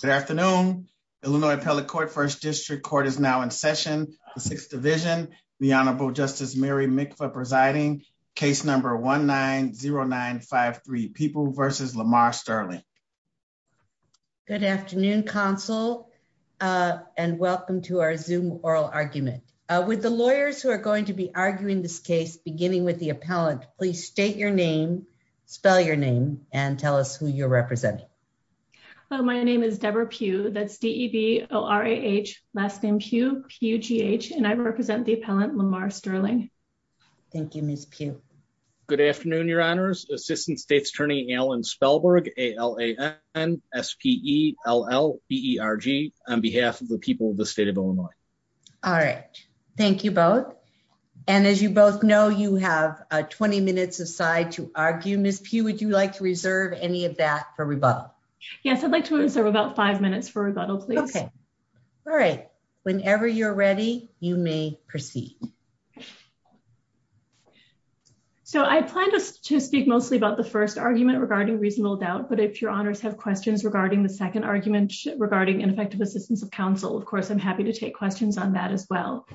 Good afternoon, Illinois Appellate Court, 1st District Court is now in session, the Sixth Division. The Honorable Justice Mary Mikva presiding, case number 1-9-0-9-5-3, People v. Lamar Sterling. Good afternoon, counsel, and welcome to our Zoom oral argument. With the lawyers who are going to be arguing this case, beginning with the appellant, please state your name, spell your name, and tell us who you're representing. Hello, my name is Deborah Pugh, that's D-E-V-O-R-A-H, last name Pugh, P-U-G-H, and I represent the appellant Lamar Sterling. Thank you, Ms. Pugh. Good afternoon, your honors, Assistant State's Attorney Alan Spellberg, A-L-A-N-S-P-E-L-L-B-E-R-G, on behalf of the people of the state of Illinois. All right, thank you both. Ms. Pugh, would you like to reserve any of that for rebuttal? Yes, I'd like to reserve about five minutes for rebuttal, please. Okay. All right. Whenever you're ready, you may proceed. So I plan to speak mostly about the first argument regarding reasonable doubt, but if your honors have questions regarding the second argument regarding ineffective assistance of counsel, of course, I'm happy to take questions on that as well.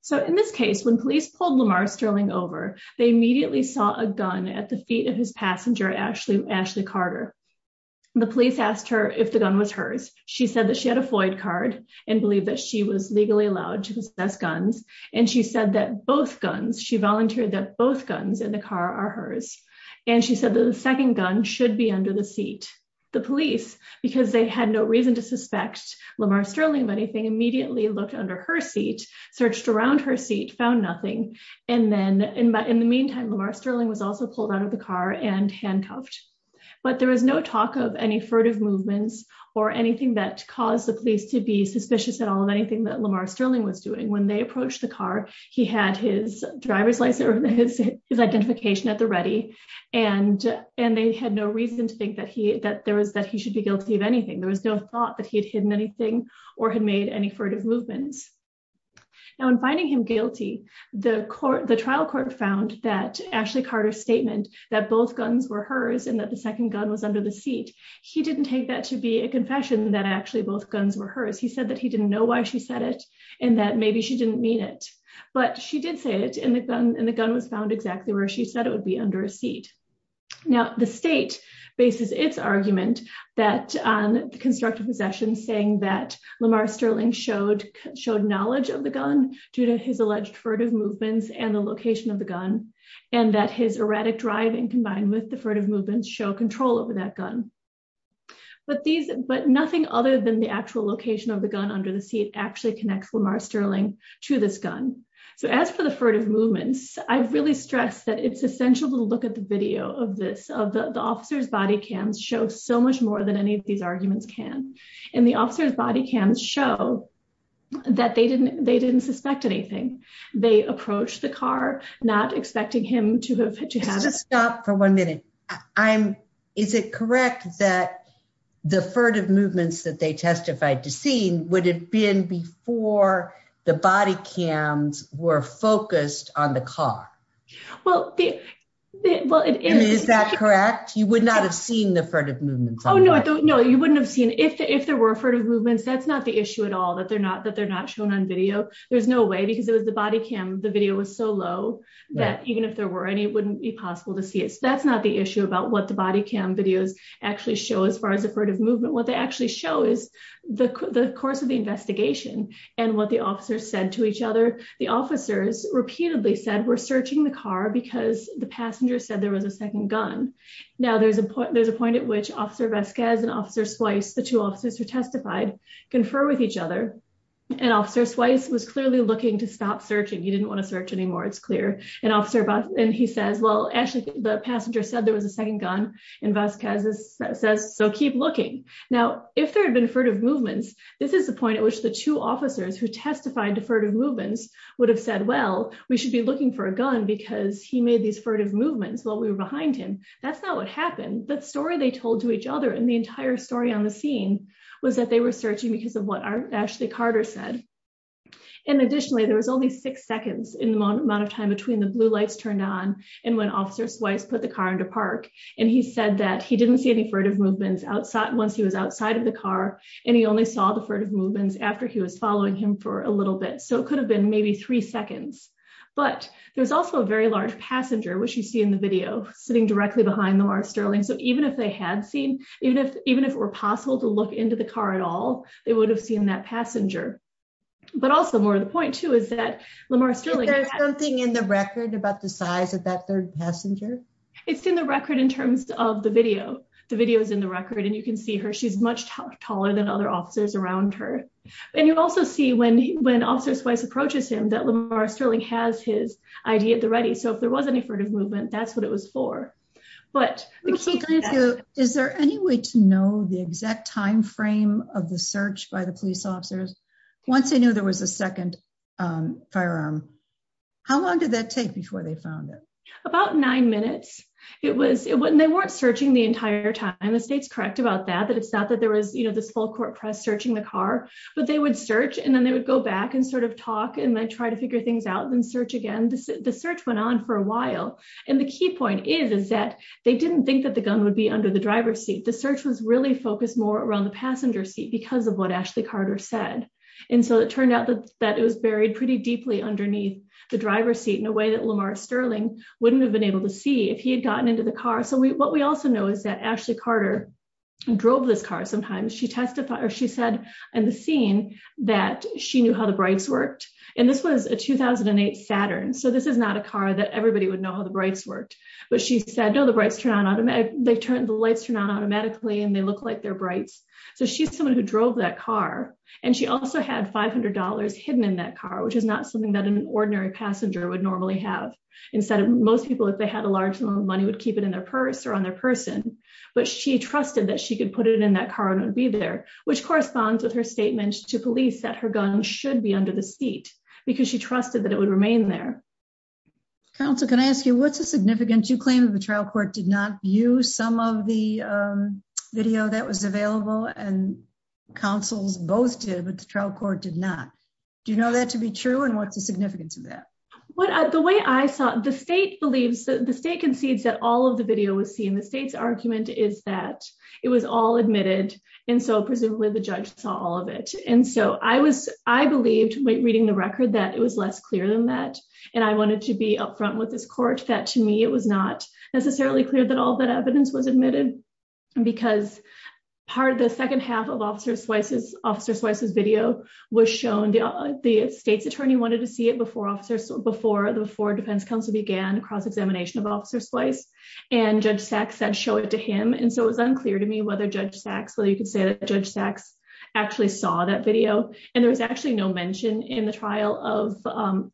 So in this case, when police pulled Lamar Sterling over, they immediately saw a gun at the feet of his passenger, Ashley Carter. The police asked her if the gun was hers. She said that she had a Floyd card and believed that she was legally allowed to possess guns. And she said that both guns, she volunteered that both guns in the car are hers. And she said that the second gun should be under the seat. The police, because they had no reason to suspect Lamar Sterling of anything, immediately looked under her seat, searched around her seat, found nothing. And then in the meantime, Lamar Sterling was also pulled out of the car and handcuffed. But there was no talk of any furtive movements or anything that caused the police to be suspicious at all of anything that Lamar Sterling was doing. When they approached the car, he had his driver's license, his identification at the ready, and they had no reason to think that he should be guilty of anything. There was no thought that he had hidden anything or had made any furtive movements. Now, in finding him guilty, the trial court found that Ashley Carter's statement that both guns were hers and that the second gun was under the seat, he didn't take that to be a confession that actually both guns were hers. He said that he didn't know why she said it, and that maybe she didn't mean it. But she did say it, and the gun was found exactly where she said it would be, under a seat. Now, the state bases its argument on the constructive possession, saying that Lamar Sterling showed knowledge of the gun due to his alleged furtive movements and the location of the gun, and that his erratic driving combined with the furtive movements show control over that gun. But nothing other than the actual location of the gun under the seat actually connects Lamar Sterling to this gun. So as for the furtive movements, I really stress that it's essential to look at the video of this, of the officer's body cams show so much more than any of these arguments can. And the officer's body cams show that they didn't suspect anything. They approached the car, not expecting him to have- Let's just stop for one minute. Is it correct that the furtive movements that they testified to seeing would have been before the body cams were focused on the car? Well, it is. Is that correct? You would not have seen the furtive movements on the car? No, you wouldn't have seen. If there were furtive movements, that's not the issue at all, that they're not shown on video. There's no way because it was the body cam. The video was so low that even if there were any, it wouldn't be possible to see it. So that's not the issue about what the body cam videos actually show as far as the furtive movement. What they actually show is the course of the investigation and what the officers said to each other. The officers repeatedly said, we're searching the car because the passenger said there was a second gun. Now, there's a point at which Officer Vasquez and Officer Swice, the two officers who testified, confer with each other. And Officer Swice was clearly looking to stop searching. He didn't want to search anymore, it's clear. And he says, well, actually, the passenger said there was a second gun and Vasquez says, so keep looking. Now, if there had been furtive movements, this is the point at which the two officers who testified to furtive movements would have said, well, we should be looking for a gun because he made these furtive movements while we were behind him. That's not what happened. The story they told to each other and the entire story on the scene was that they were searching because of what Ashley Carter said. And additionally, there was only six seconds in the amount of time between the blue lights turned on and when Officer Swice put the car into park. And he said that he didn't see any furtive movements once he was outside of the car and he only saw the furtive movements after he was following him for a little bit. So it could have been maybe three seconds. But there's also a very large passenger, which you see in the video, sitting directly behind Lamar Sterling. So even if they had seen, even if even if it were possible to look into the car at all, they would have seen that passenger. But also more of the point, too, is that Lamar Sterling- Is there something in the record about the size of that third passenger? It's in the record in terms of the video. The video is in the record and you can see her. She's much taller than other officers around her. And you also see when when Officer Swice approaches him that Lamar Sterling has his ID at the ready. So if there was any furtive movement, that's what it was for. But is there any way to know the exact time frame of the search by the police officers once they knew there was a second firearm? How long did that take before they found it? About nine minutes. It was when they weren't searching the entire time. The state's correct about that. It's not that there was, you know, this full court press searching the car, but they would search and then they would go back and sort of talk and then try to figure things out and search again. The search went on for a while. And the key point is, is that they didn't think that the gun would be under the driver's seat. The search was really focused more around the passenger seat because of what Ashley Carter said. And so it turned out that it was buried pretty deeply underneath the driver's seat in a way that Lamar Sterling wouldn't have been able to see if he had gotten into the car. What we also know is that Ashley Carter drove this car sometimes. She testified or she said in the scene that she knew how the brights worked. And this was a 2008 Saturn. So this is not a car that everybody would know how the brights worked. But she said, no, the lights turn on automatically and they look like they're brights. So she's someone who drove that car. And she also had $500 hidden in that car, which is not something that an ordinary passenger would normally have. Most people, if they had a large amount of money, would keep it in their purse or on their person. But she trusted that she could put it in that car and it would be there, which corresponds with her statement to police that her gun should be under the seat because she trusted that it would remain there. Counsel, can I ask you, what's the significance? You claim that the trial court did not use some of the video that was available and counsels both did, but the trial court did not. Do you know that to be true? And what's the significance of that? Well, the way I saw it, the state believes that the state concedes that all of the video was seen. The state's argument is that it was all admitted. And so presumably the judge saw all of it. And so I was, I believed when reading the record that it was less clear than that. And I wanted to be upfront with this court that to me, it was not necessarily clear that all that evidence was admitted because part of the second half of Officer Swice's video was shown. The state's attorney wanted to see it before the defense counsel began cross-examination of Officer Swice and Judge Sachs said show it to him. And so it was unclear to me whether Judge Sachs, whether you could say that Judge Sachs actually saw that video. And there was actually no mention in the trial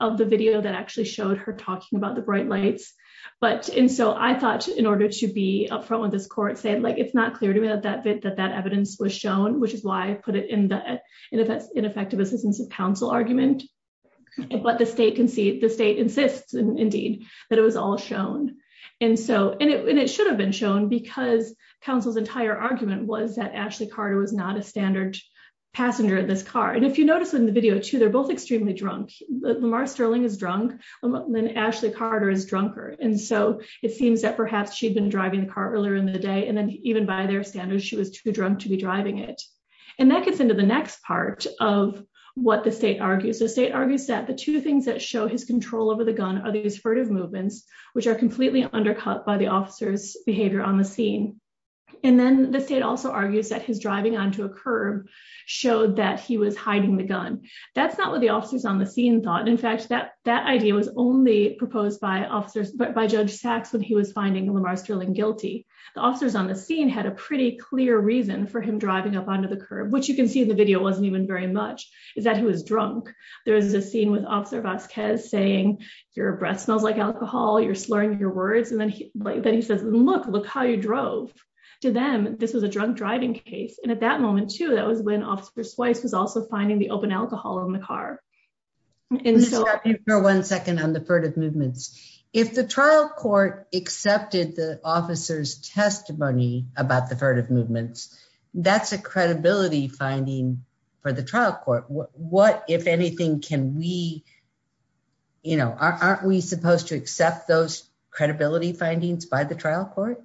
of the video that actually showed her talking about the bright lights. But, and so I thought in order to be upfront with this court said, like, it's not clear to me that that evidence was shown, which is why I put it in the ineffective assistance of counsel argument. But the state concedes, the state insists indeed that it was all shown. And so, and it should have been shown because counsel's entire argument was that Ashley Carter was not a standard passenger in this car. And if you notice in the video too, they're both extremely drunk. Lamar Sterling is drunk and Ashley Carter is drunker. And so it seems that perhaps she'd been driving the car earlier in the day. And then even by their standards, she was too drunk to be driving it. And that gets into the next part of what the state argues. The state argues that the two things that show his control over the gun are these furtive movements, which are completely undercut by the officer's behavior on the scene. And then the state also argues that his driving onto a curb showed that he was hiding the gun. That's not what the officers on the scene thought. In fact, that idea was only proposed by officers, by Judge Sachs, when he was finding Lamar Sterling guilty. The officers on the scene had a pretty clear reason for him driving up onto the curb, which you can see in the video wasn't even very much, is that he was drunk. There is a scene with Officer Vasquez saying, your breath smells like alcohol. You're slurring your words. And then he says, look, look how you drove. To them, this was a drunk driving case. And at that moment too, that was when Officer Swice was also finding the open alcohol in the car. And so- On the furtive movements. If the trial court accepted the officer's testimony about the furtive movements, that's a credibility finding for the trial court. What, if anything, can we, you know, aren't we supposed to accept those credibility findings by the trial court?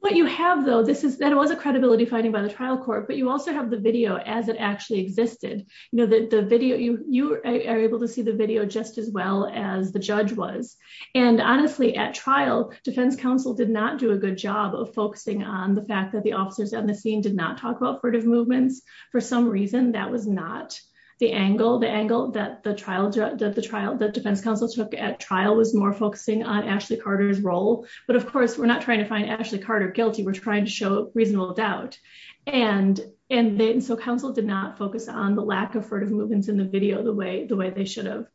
What you have though, this is, that was a credibility finding by the trial court, but you also have the video as it actually existed. You know, the video, you are able to see the video just as well as the judge was. And honestly, at trial, defense counsel did not do a good job of focusing on the fact that the officers on the scene did not talk about furtive movements. For some reason, that was not the angle, the angle that the trial, that the trial, that defense counsel took at trial was more focusing on Ashley Carter's role. But of course, we're not trying to find Ashley Carter guilty. We're trying to show reasonable doubt. And, and then so counsel did not focus on the lack of furtive movements in the video, the way, the way they should have.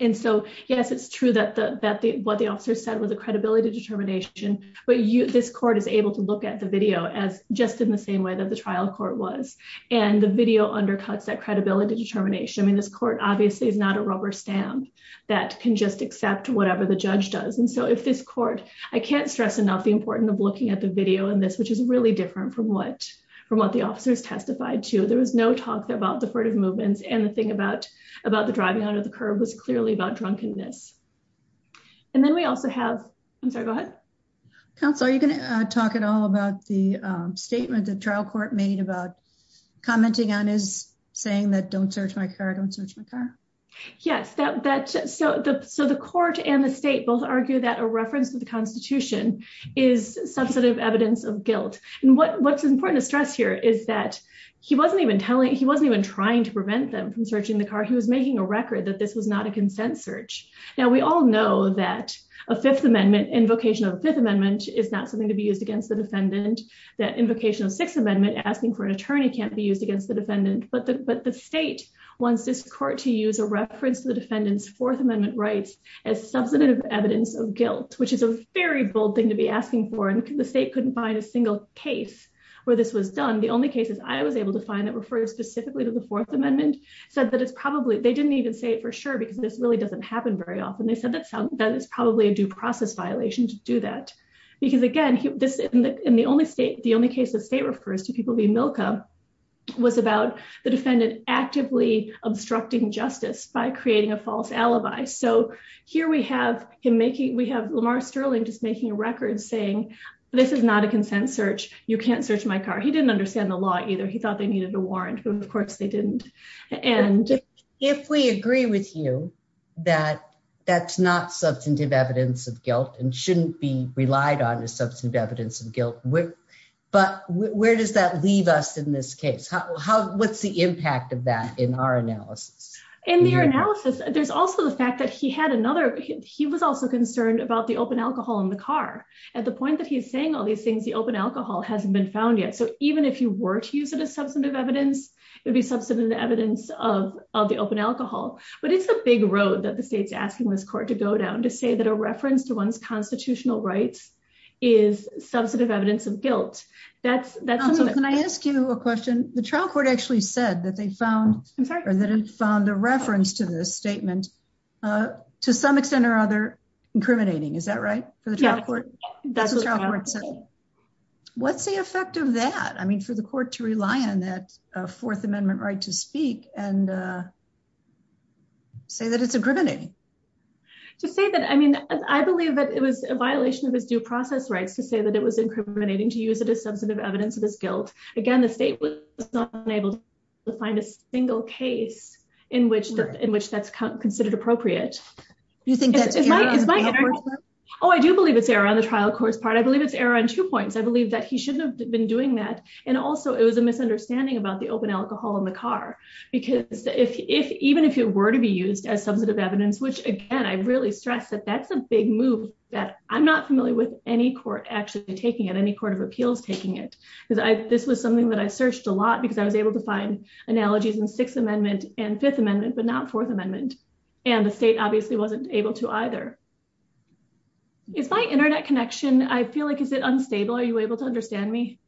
And so, yes, it's true that the, that the, what the officer said was a credibility determination, but you, this court is able to look at the video as just in the same way that the trial court was. And the video undercuts that credibility determination. I mean, this court obviously is not a rubber stamp that can just accept whatever the judge does. And so if this court, I can't stress enough the importance of looking at the video in this, which is really different from what, from what the officers testified to. There was no talk there about the furtive movements. And the thing about, about the driving under the curb was clearly about drunkenness. And then we also have, I'm sorry, go ahead. Counsel, are you going to talk at all about the statement that trial court made about commenting on his saying that don't search my car, don't search my car? Yes, that, that, so the, so the court and the state both argue that a reference to the guilt and what, what's important to stress here is that he wasn't even telling, he wasn't even trying to prevent them from searching the car. He was making a record that this was not a consent search. Now we all know that a fifth amendment invocation of the fifth amendment is not something to be used against the defendant. That invocation of sixth amendment asking for an attorney can't be used against the defendant, but the, but the state wants this court to use a reference to the defendant's fourth amendment rights as substantive evidence of guilt, which is a very bold thing to be able to do. And so the only case that I was able to find that referred specifically to the fourth amendment said that it's probably, they didn't even say it for sure, because this really doesn't happen very often. They said that's how that is probably a due process violation to do that. Because again, this is the only state, the only case that state refers to people being Milka was about the defendant actively obstructing justice by creating a false alibi. So here we have him making, we have Lamar Sterling just making a record saying, this is not a consent search. You can't search my car. He didn't understand the law either. He thought they needed a warrant, but of course they didn't. And if we agree with you, that that's not substantive evidence of guilt and shouldn't be relied on as substantive evidence of guilt. But where does that leave us in this case? What's the impact of that in our analysis? In their analysis, there's also the fact that he had another, he was also concerned about the open alcohol in the car. At the point that he's saying all these things, the open alcohol hasn't been found yet. So even if you were to use it as substantive evidence, it would be substantive evidence of the open alcohol. But it's a big road that the state's asking this court to go down to say that a reference to one's constitutional rights is substantive evidence of guilt. That's, that's what I asked you a question. The trial court actually said that they found or that it found a reference to this statement to some extent or other incriminating. Is that right? What's the effect of that? I mean, for the court to rely on that Fourth Amendment right to speak and say that it's incriminating. To say that, I mean, I believe that it was a violation of his due process rights to say that it was incriminating to use it as substantive evidence of his guilt. Again, the state was unable to find a single case in which that's considered appropriate. Do you think that's right? Oh, I do believe it's error on the trial court's part. I believe it's error on two points. I believe that he shouldn't have been doing that. And also, it was a misunderstanding about the open alcohol in the car. Because if even if it were to be used as substantive evidence, which again, I really stress that that's a big move that I'm not familiar with any court actually taking it, any court of appeals taking it. Because this was something that I searched a lot because I was able to find analogies in Sixth Amendment and Fifth Amendment, but not Fourth Amendment. And the state obviously wasn't able to either. It's my internet connection. I feel like is it unstable? Are you able to understand me?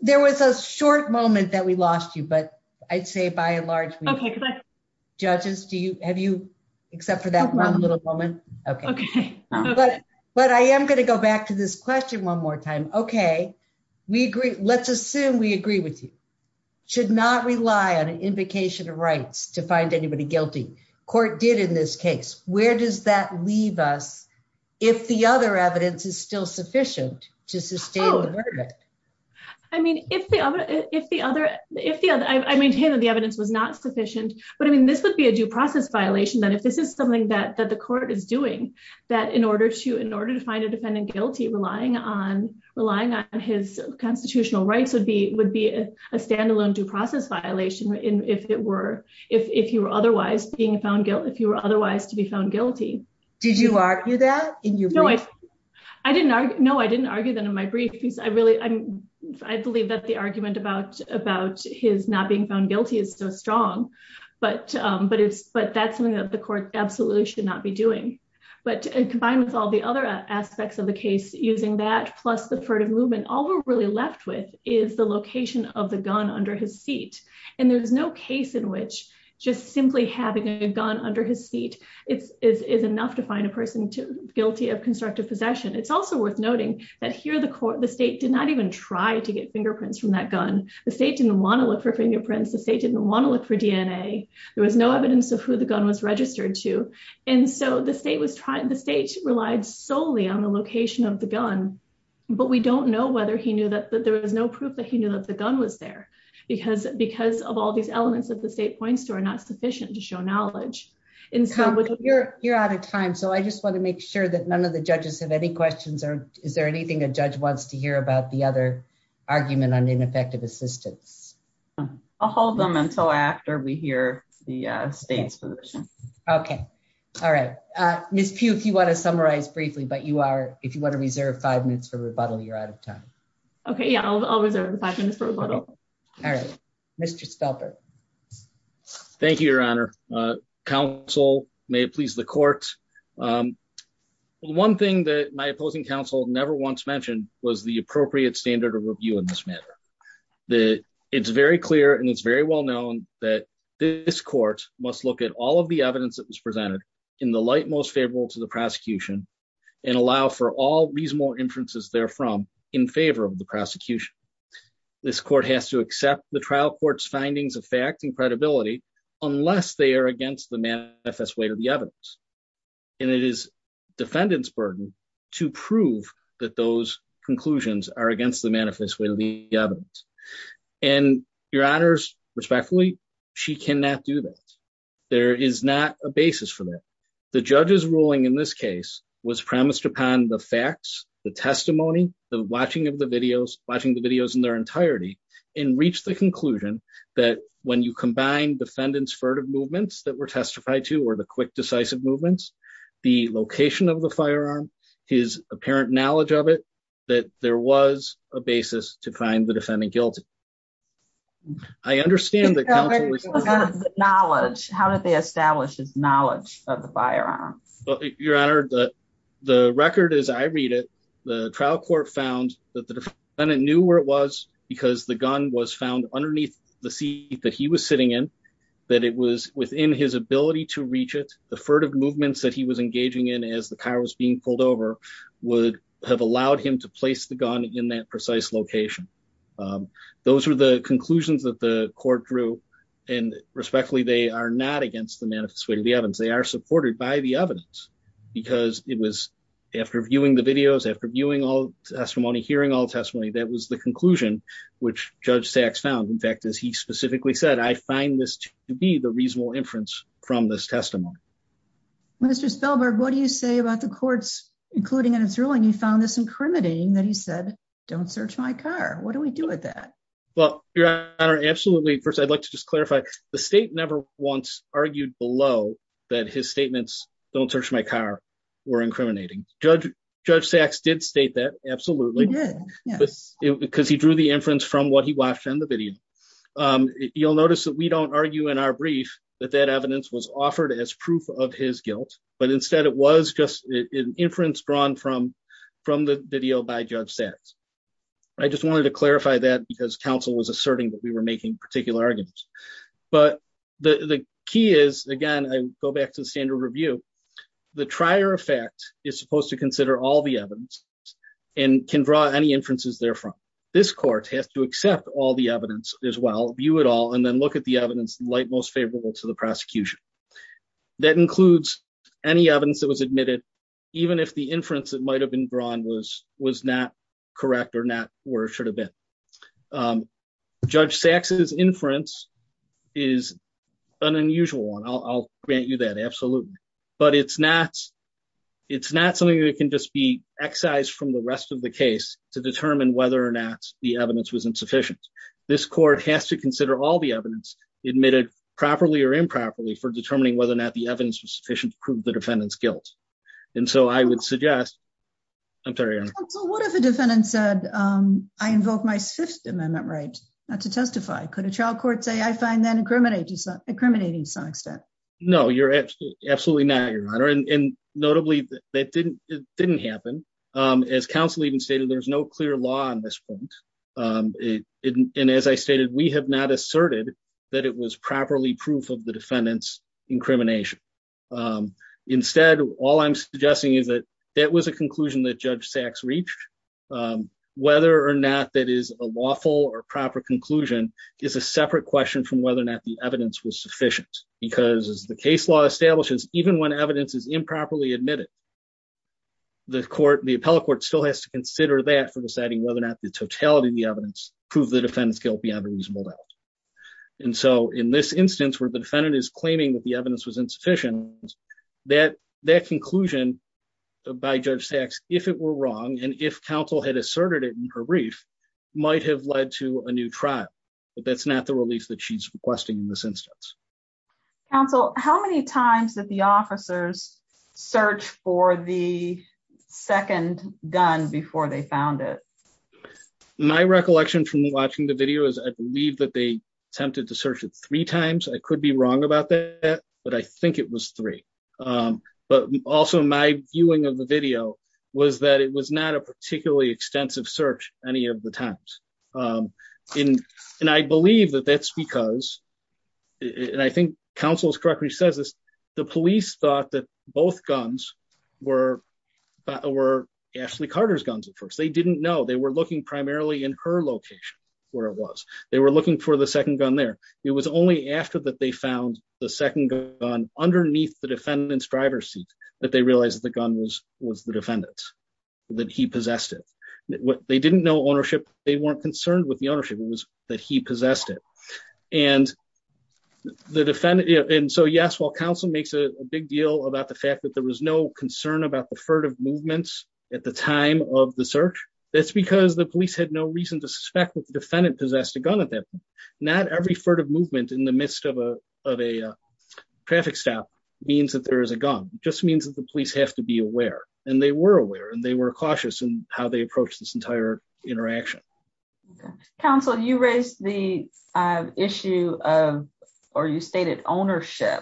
There was a short moment that we lost you. But I'd say by and large, judges, do you have you except for that little moment? Okay. Okay. But I am going to go back to this question one more time. Okay. We agree. Let's assume we agree with you. Should not rely on an invocation of rights to find anybody guilty. Court did in this case. Where does that leave us? If the other evidence is still sufficient to sustain the verdict? I mean, if the other if the other if the other I maintain that the evidence was not sufficient. But I mean, this would be a due process violation that if this is something that the court is doing, that in order to in order to find a defendant guilty, relying on relying on his constitutional rights would be would be a standalone due process violation if it were if you were otherwise being found guilty, if you were otherwise to be found guilty. Did you argue that? I didn't. No, I didn't argue that in my brief. I really I believe that the argument about about his not being found guilty is so strong. But but it's but that's something that the court absolutely should not be doing. But combined with all the other aspects of the case using that plus the furtive movement, all we're really left with is the location of the gun under his seat. And there's no case in which just simply having a gun under his seat. It is enough to find a person guilty of constructive possession. It's also worth noting that here the court, the state did not even try to get fingerprints from that gun. The state didn't want to look for fingerprints. The state didn't want to look for DNA. There was no evidence of who the gun was registered to. And so the state was trying the state relied solely on the location of the gun. But we don't know whether he knew that there was no proof that he knew that the gun was there because because of all these elements that the state points to are not sufficient to show knowledge. You're out of time. So I just want to make sure that none of the judges have any questions. Or is there anything a judge wants to hear about the other argument on ineffective assistance? I'll hold them until after we hear the state's position. OK, all right. Miss Pew, if you want to summarize briefly, but you are if you want to reserve five minutes for rebuttal, you're out of time. OK, yeah, I'll reserve the five minutes for rebuttal. All right, Mr. Spelter. Thank you, Your Honor. Counsel, may it please the court. One thing that my opposing counsel never once mentioned was the appropriate standard of review in this matter. That it's very clear and it's very well known that this court must look at all of the evidence that was presented in the light most favorable to the prosecution and allow for all reasonable inferences therefrom in favor of the prosecution. This court has to accept the trial court's findings of fact and credibility unless they are against the manifest way to the evidence. And it is defendant's burden to prove that those conclusions are against the manifest way to the evidence. And Your Honors, respectfully, she cannot do that. There is not a basis for that. The judge's ruling in this case was premised upon the facts, the testimony, the watching of the videos, watching the videos in their entirety and reach the conclusion that when you combine defendant's furtive movements that were testified to or the quick decisive movements, the location of the firearm, his apparent knowledge of it, that there was a basis to find the defendant guilty. I understand that knowledge. How did they establish his knowledge of the firearm? Your Honor, the record as I read it, the trial court found that the defendant knew where it was because the gun was found underneath the seat that he was sitting in, that it was within his ability to reach it. The furtive movements that he was engaging in as the car was being pulled over would have allowed him to place the gun in that precise location. Those are the conclusions that the court drew and respectfully, they are not against the manifest way to the evidence. They are supported by the evidence because it was after viewing the videos, after viewing all testimony, hearing all testimony, that was the conclusion which Judge Sachs found. In fact, as he specifically said, I find this to be the reasonable inference from this testimony. Mr. Spellberg, what do you say about the courts, including in its ruling, he found this incriminating that he said, don't search my car. What do we do with that? Well, Your Honor, absolutely. First, I'd like to just clarify, the state never once argued below that his statements, don't search my car, were incriminating. Judge Sachs did state that, absolutely. He did, yes. Because he drew the inference from what he watched on the video. You'll notice that we don't argue in our brief that that evidence was offered as proof of his guilt. But instead, it was just an inference drawn from the video by Judge Sachs. I just wanted to clarify that because counsel was asserting that we were making particular arguments. But the key is, again, I go back to the standard review. The trier of fact is supposed to consider all the evidence and can draw any inferences therefrom. This court has to accept all the evidence as well, view it all, and then look at the evidence light most favorable to the prosecution. That includes any evidence that was admitted, even if the inference that might have been drawn was not correct or not where it should have been. Judge Sachs' inference is an unusual one. I'll grant you that, absolutely. But it's not something that can just be excised from the rest of the case to determine whether or not the evidence was insufficient. This court has to consider all the evidence admitted properly or improperly for determining whether or not the evidence was sufficient to prove the defendant's guilt. And so I would suggest... I'm sorry, Your Honor. So what if a defendant said, I invoke my Fifth Amendment right not to testify? Could a child court say, I find that incriminating to some extent? No, absolutely not, Your Honor. And notably, that didn't happen. As counsel even stated, there's no clear law on this point. And as I stated, we have not asserted that it was properly proof of the defendant's incrimination. Instead, all I'm suggesting is that that was a conclusion that Judge Sachs reached. Whether or not that is a lawful or proper conclusion is a separate question from whether or not the evidence was sufficient, because as the case law establishes, even when evidence is improperly admitted, the appellate court still has to consider that for deciding whether or not the totality of the evidence proved the defendant's guilt beyond a reasonable doubt. And so in this instance, where the defendant is claiming that the evidence was insufficient, that conclusion by Judge Sachs, if it were wrong, and if counsel had asserted it in her brief, might have led to a new trial. But that's not the relief that she's requesting in this instance. Counsel, how many times did the officers search for the second gun before they found it? My recollection from watching the video is I believe that they attempted to search it three times. I could be wrong about that, but I think it was three. But also my viewing of the video was that it was not a particularly extensive search any of the times. And I believe that that's because, and I think counsel's correctly says this, the police thought that both guns were Ashley Carter's guns at first. They didn't know. They were looking primarily in her location where it was. They were looking for the second gun there. It was only after that they found the second gun underneath the defendant's driver's seat that they realized the gun was the defendant's, that he possessed it. They didn't know ownership. They weren't concerned with the ownership. It was that he possessed it. So yes, while counsel makes a big deal about the fact that there was no concern about the movements at the time of the search, that's because the police had no reason to suspect that the defendant possessed a gun at that point. Not every furtive movement in the midst of a traffic stop means that there is a gun. It just means that the police have to be aware. And they were aware and they were cautious in how they approached this entire interaction. Counsel, you raised the issue of, or you stated ownership.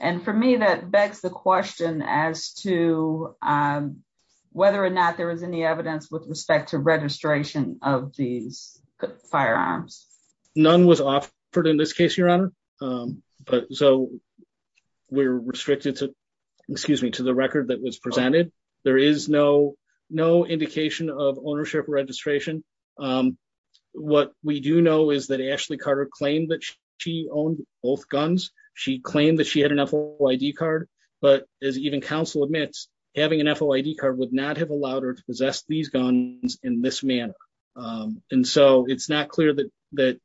And for me, that begs the question as to whether or not there was any evidence with respect to registration of these firearms. None was offered in this case, Your Honor. So we're restricted to, excuse me, to the record that was presented. There is no indication of ownership registration. What we do know is that Ashley Carter claimed that she owned both guns. She claimed that she had an FOID card. But as even counsel admits, having an FOID card would not have allowed her to possess these guns in this manner. And so it's not clear that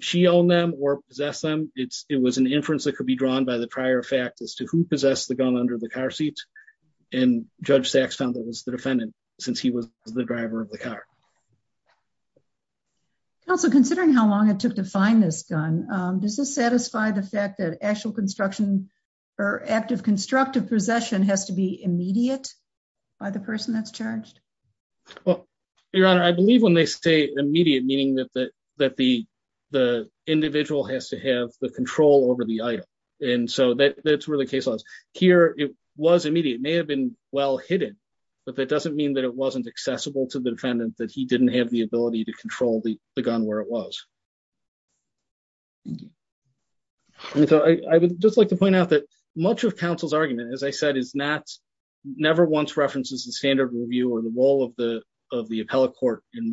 she owned them or possessed them. It was an inference that could be drawn by the prior fact as to who possessed the gun under the car seat. And Judge Sachs found that it was the defendant since he was the driver of the car. Counsel, considering how long it took to find this gun, does this satisfy the fact that actual construction or active constructive possession has to be immediate by the person that's charged? Well, Your Honor, I believe when they say immediate, meaning that the individual has to have the control over the item. And so that's where the case was. Here, it was immediate. It may have been well hidden, but that doesn't mean that it wasn't accessible to the defendant that he didn't have the ability to control the gun where it was. And so I would just like to point out that much of counsel's argument, as I said, never once references the standard review or the role of the appellate court in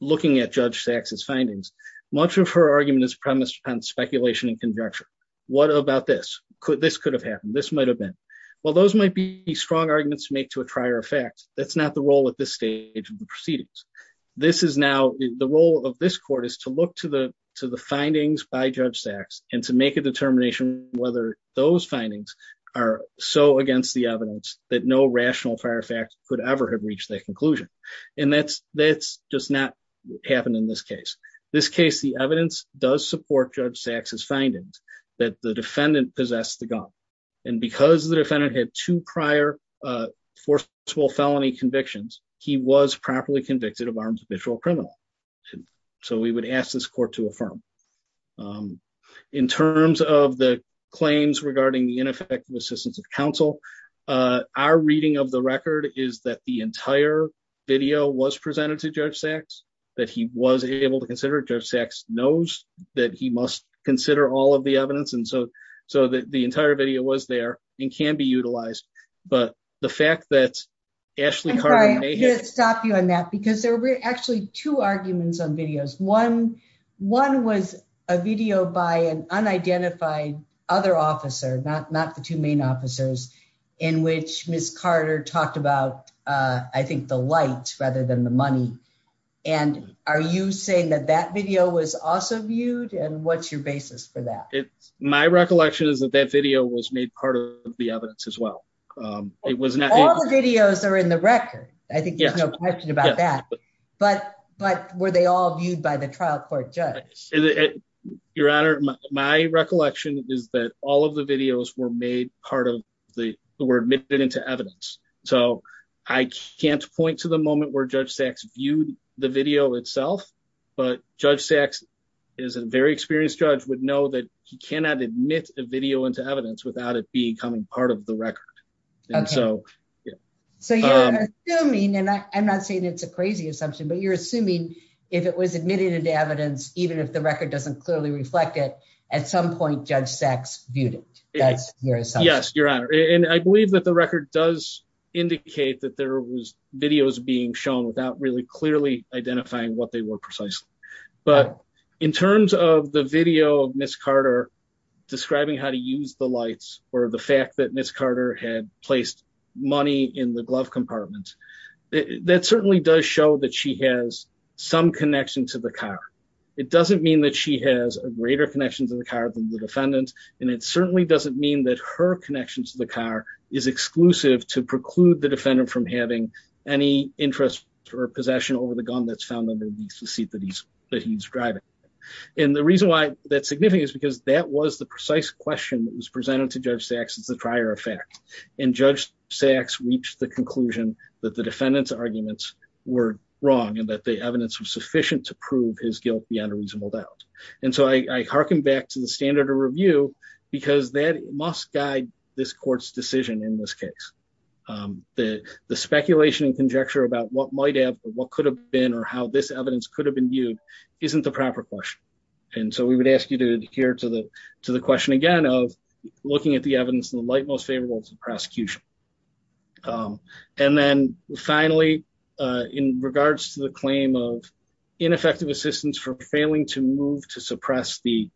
looking at Judge Sachs's findings. Much of her argument is premised on speculation and conjecture. What about this? This could have happened. This might have been. While those might be strong arguments to make to a prior effect, that's not the role at this stage of the proceedings. The role of this court is to look to the findings by Judge Sachs and to make a determination whether those findings are so against the evidence that no rational fire fact could ever have reached that conclusion. And that's just not happened in this case. This case, the evidence does support Judge Sachs's findings that the defendant possessed the gun. And because the defendant had two prior forceful felony convictions, he was properly convicted of armed habitual criminal. So we would ask this court to affirm. In terms of the claims regarding the ineffective assistance of counsel, our reading of the record is that the entire video was presented to Judge Sachs, that he was able to consider. Judge Sachs knows that he must consider all of the evidence. So the entire video was there and can be utilized. But the fact that Ashley Carter may have- I'm sorry, I'm going to stop you on that, because there were actually two arguments on videos. One was a video by an unidentified other officer, not the two main officers, in which Ms. Carter talked about, I think, the lights rather than the money. And are you saying that that video was also viewed? And what's your basis for that? My recollection is that that video was made part of the evidence as well. It was not- All the videos are in the record. I think there's no question about that. But were they all viewed by the trial court judge? Your Honor, my recollection is that all of the videos were made part of the- were admitted into evidence. So I can't point to the moment where Judge Sachs viewed the video itself. But Judge Sachs is a very experienced judge, would know that he cannot admit a video into evidence without it becoming part of the record. And so- So you're assuming, and I'm not saying it's a crazy assumption, but you're assuming if it was admitted into evidence, even if the record doesn't clearly reflect it, at some point, Judge Sachs viewed it. That's your assumption. Yes, Your Honor. And I believe that the record does indicate that there was videos being shown without clearly identifying what they were precisely. But in terms of the video of Ms. Carter describing how to use the lights, or the fact that Ms. Carter had placed money in the glove compartment, that certainly does show that she has some connection to the car. It doesn't mean that she has a greater connection to the car than the defendant, and it certainly doesn't mean that her connection to the car is exclusive to preclude the defendant from having any interest or possession over the gun that's found under the seat that he's driving. And the reason why that's significant is because that was the precise question that was presented to Judge Sachs as the prior effect. And Judge Sachs reached the conclusion that the defendant's arguments were wrong and that the evidence was sufficient to prove his guilt beyond a reasonable doubt. And so I hearken back to the standard of review, because that must guide this court's decision in this case. The speculation and conjecture about what might have or what could have been or how this evidence could have been viewed isn't the proper question. And so we would ask you to adhere to the question again of looking at the evidence in the light most favorable to the prosecution. And then finally, in regards to the claim of ineffective assistance for failing to move to suppress the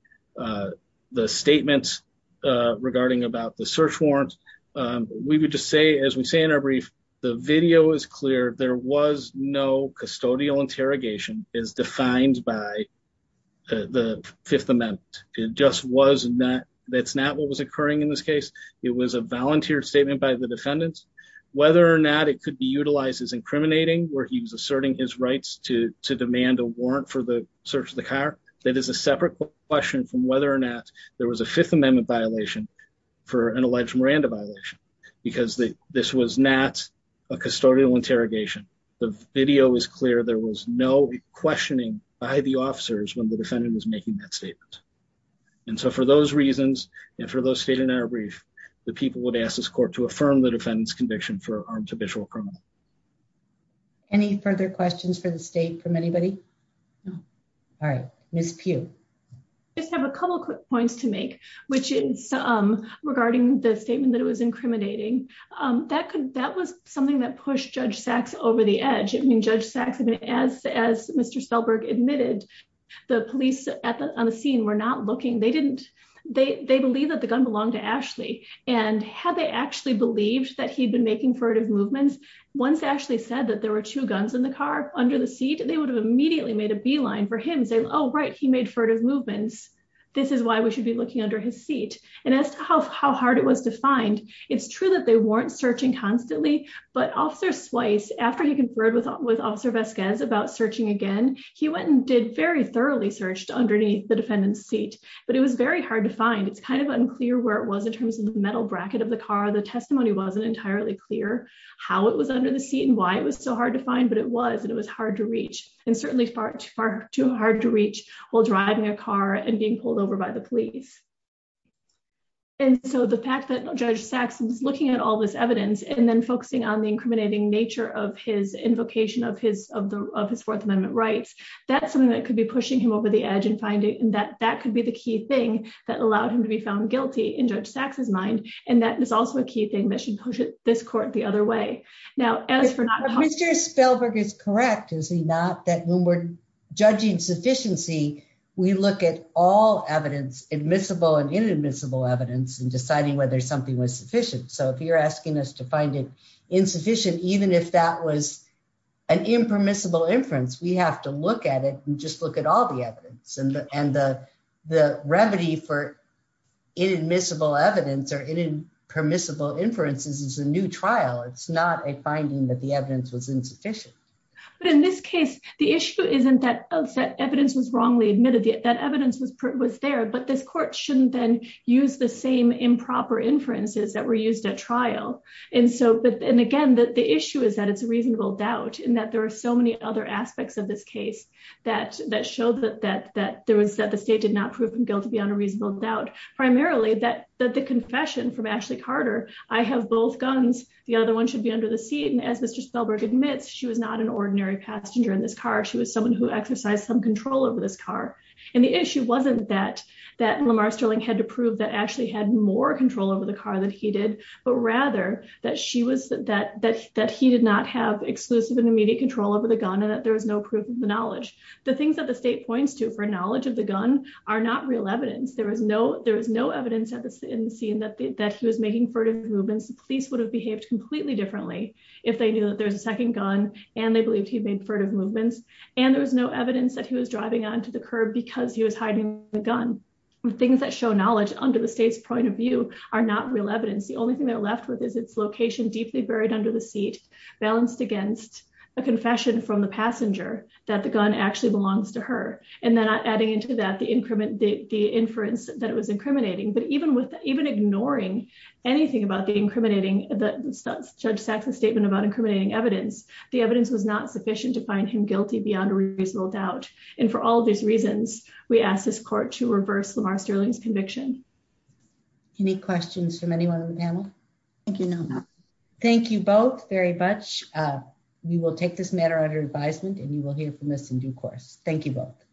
statements regarding about the search warrant, we would just say, as we say in our brief, the video is clear. There was no custodial interrogation as defined by the Fifth Amendment. It just was not. That's not what was occurring in this case. It was a volunteer statement by the defendants. Whether or not it could be utilized as incriminating where he was asserting his rights to separate question from whether or not there was a Fifth Amendment violation for an alleged Miranda violation, because this was not a custodial interrogation. The video is clear. There was no questioning by the officers when the defendant was making that statement. And so for those reasons, and for those stated in our brief, the people would ask this court to affirm the defendant's conviction for armed habitual criminal. Any further questions for the state from anybody? No. All right. Miss Pugh. Just have a couple of quick points to make, which is regarding the statement that it was incriminating. That was something that pushed Judge Sachs over the edge. I mean, Judge Sachs, as Mr. Spellberg admitted, the police on the scene were not looking. They didn't. They believe that the gun belonged to Ashley. And had they actually believed that he'd been making furtive movements, once Ashley said that there were two guns in the car under the seat, they would have immediately made a beeline for him saying, oh, right. He made furtive movements. This is why we should be looking under his seat. And as to how hard it was to find, it's true that they weren't searching constantly. But Officer Swice, after he conferred with Officer Vasquez about searching again, he went and did very thoroughly searched underneath the defendant's seat. But it was very hard to find. It's kind of unclear where it was in terms of the metal bracket of the car. The testimony wasn't entirely clear how it was under the seat and why it was so hard to find. But it was. And it was hard to reach. And certainly far too hard to reach while driving a car and being pulled over by the police. And so the fact that Judge Sachs was looking at all this evidence and then focusing on the incriminating nature of his invocation of his Fourth Amendment rights, that's something that could be pushing him over the edge and finding that that could be the key thing that allowed him to be found guilty in Judge Sachs's mind. And that is also a key thing that should push this court the other way. Now, as for not Mr. Spellberg is correct, is he not that when we're judging sufficiency, we look at all evidence, admissible and inadmissible evidence and deciding whether something was sufficient. So if you're asking us to find it insufficient, even if that was an impermissible inference, we have to look at it and just look at all the evidence and the remedy for inadmissible evidence or inadmissible inferences. It's a new trial. It's not a finding that the evidence was insufficient. But in this case, the issue isn't that evidence was wrongly admitted, that evidence was there, but this court shouldn't then use the same improper inferences that were used at trial. And so and again, the issue is that it's a reasonable doubt and that there are so many other aspects of this case that showed that the state did not prove him guilty beyond a reasonable doubt. Primarily that the confession from Ashley Carter, I have both guns. The other one should be under the seat. And as Mr. Spellberg admits, she was not an ordinary passenger in this car. She was someone who exercised some control over this car. And the issue wasn't that Lamar Sterling had to prove that Ashley had more control over the car than he did, but rather that he did not have exclusive and immediate control over the gun and that there was no proof of the knowledge. The things that the state points to for knowledge of the gun are not real evidence. There was no evidence in the scene that he was making furtive movements. The police would have behaved completely differently if they knew that there's a second gun and they believed he made furtive movements. And there was no evidence that he was driving onto the curb because he was hiding the gun. Things that show knowledge under the state's point of view are not real evidence. The only thing they're left with is its location deeply buried under the seat, balanced against a confession from the passenger that the gun actually belongs to her. And then adding into that the inference that it was incriminating. But even ignoring anything about the incriminating, Judge Saxon's statement about incriminating evidence, the evidence was not sufficient to find him guilty beyond a reasonable doubt. And for all of these reasons, we ask this court to reverse Lamar Sterling's conviction. Any questions from anyone on the panel? I think you know now. Thank you both very much. We will take this matter under advisement and you will hear from us in due course. Thank you both.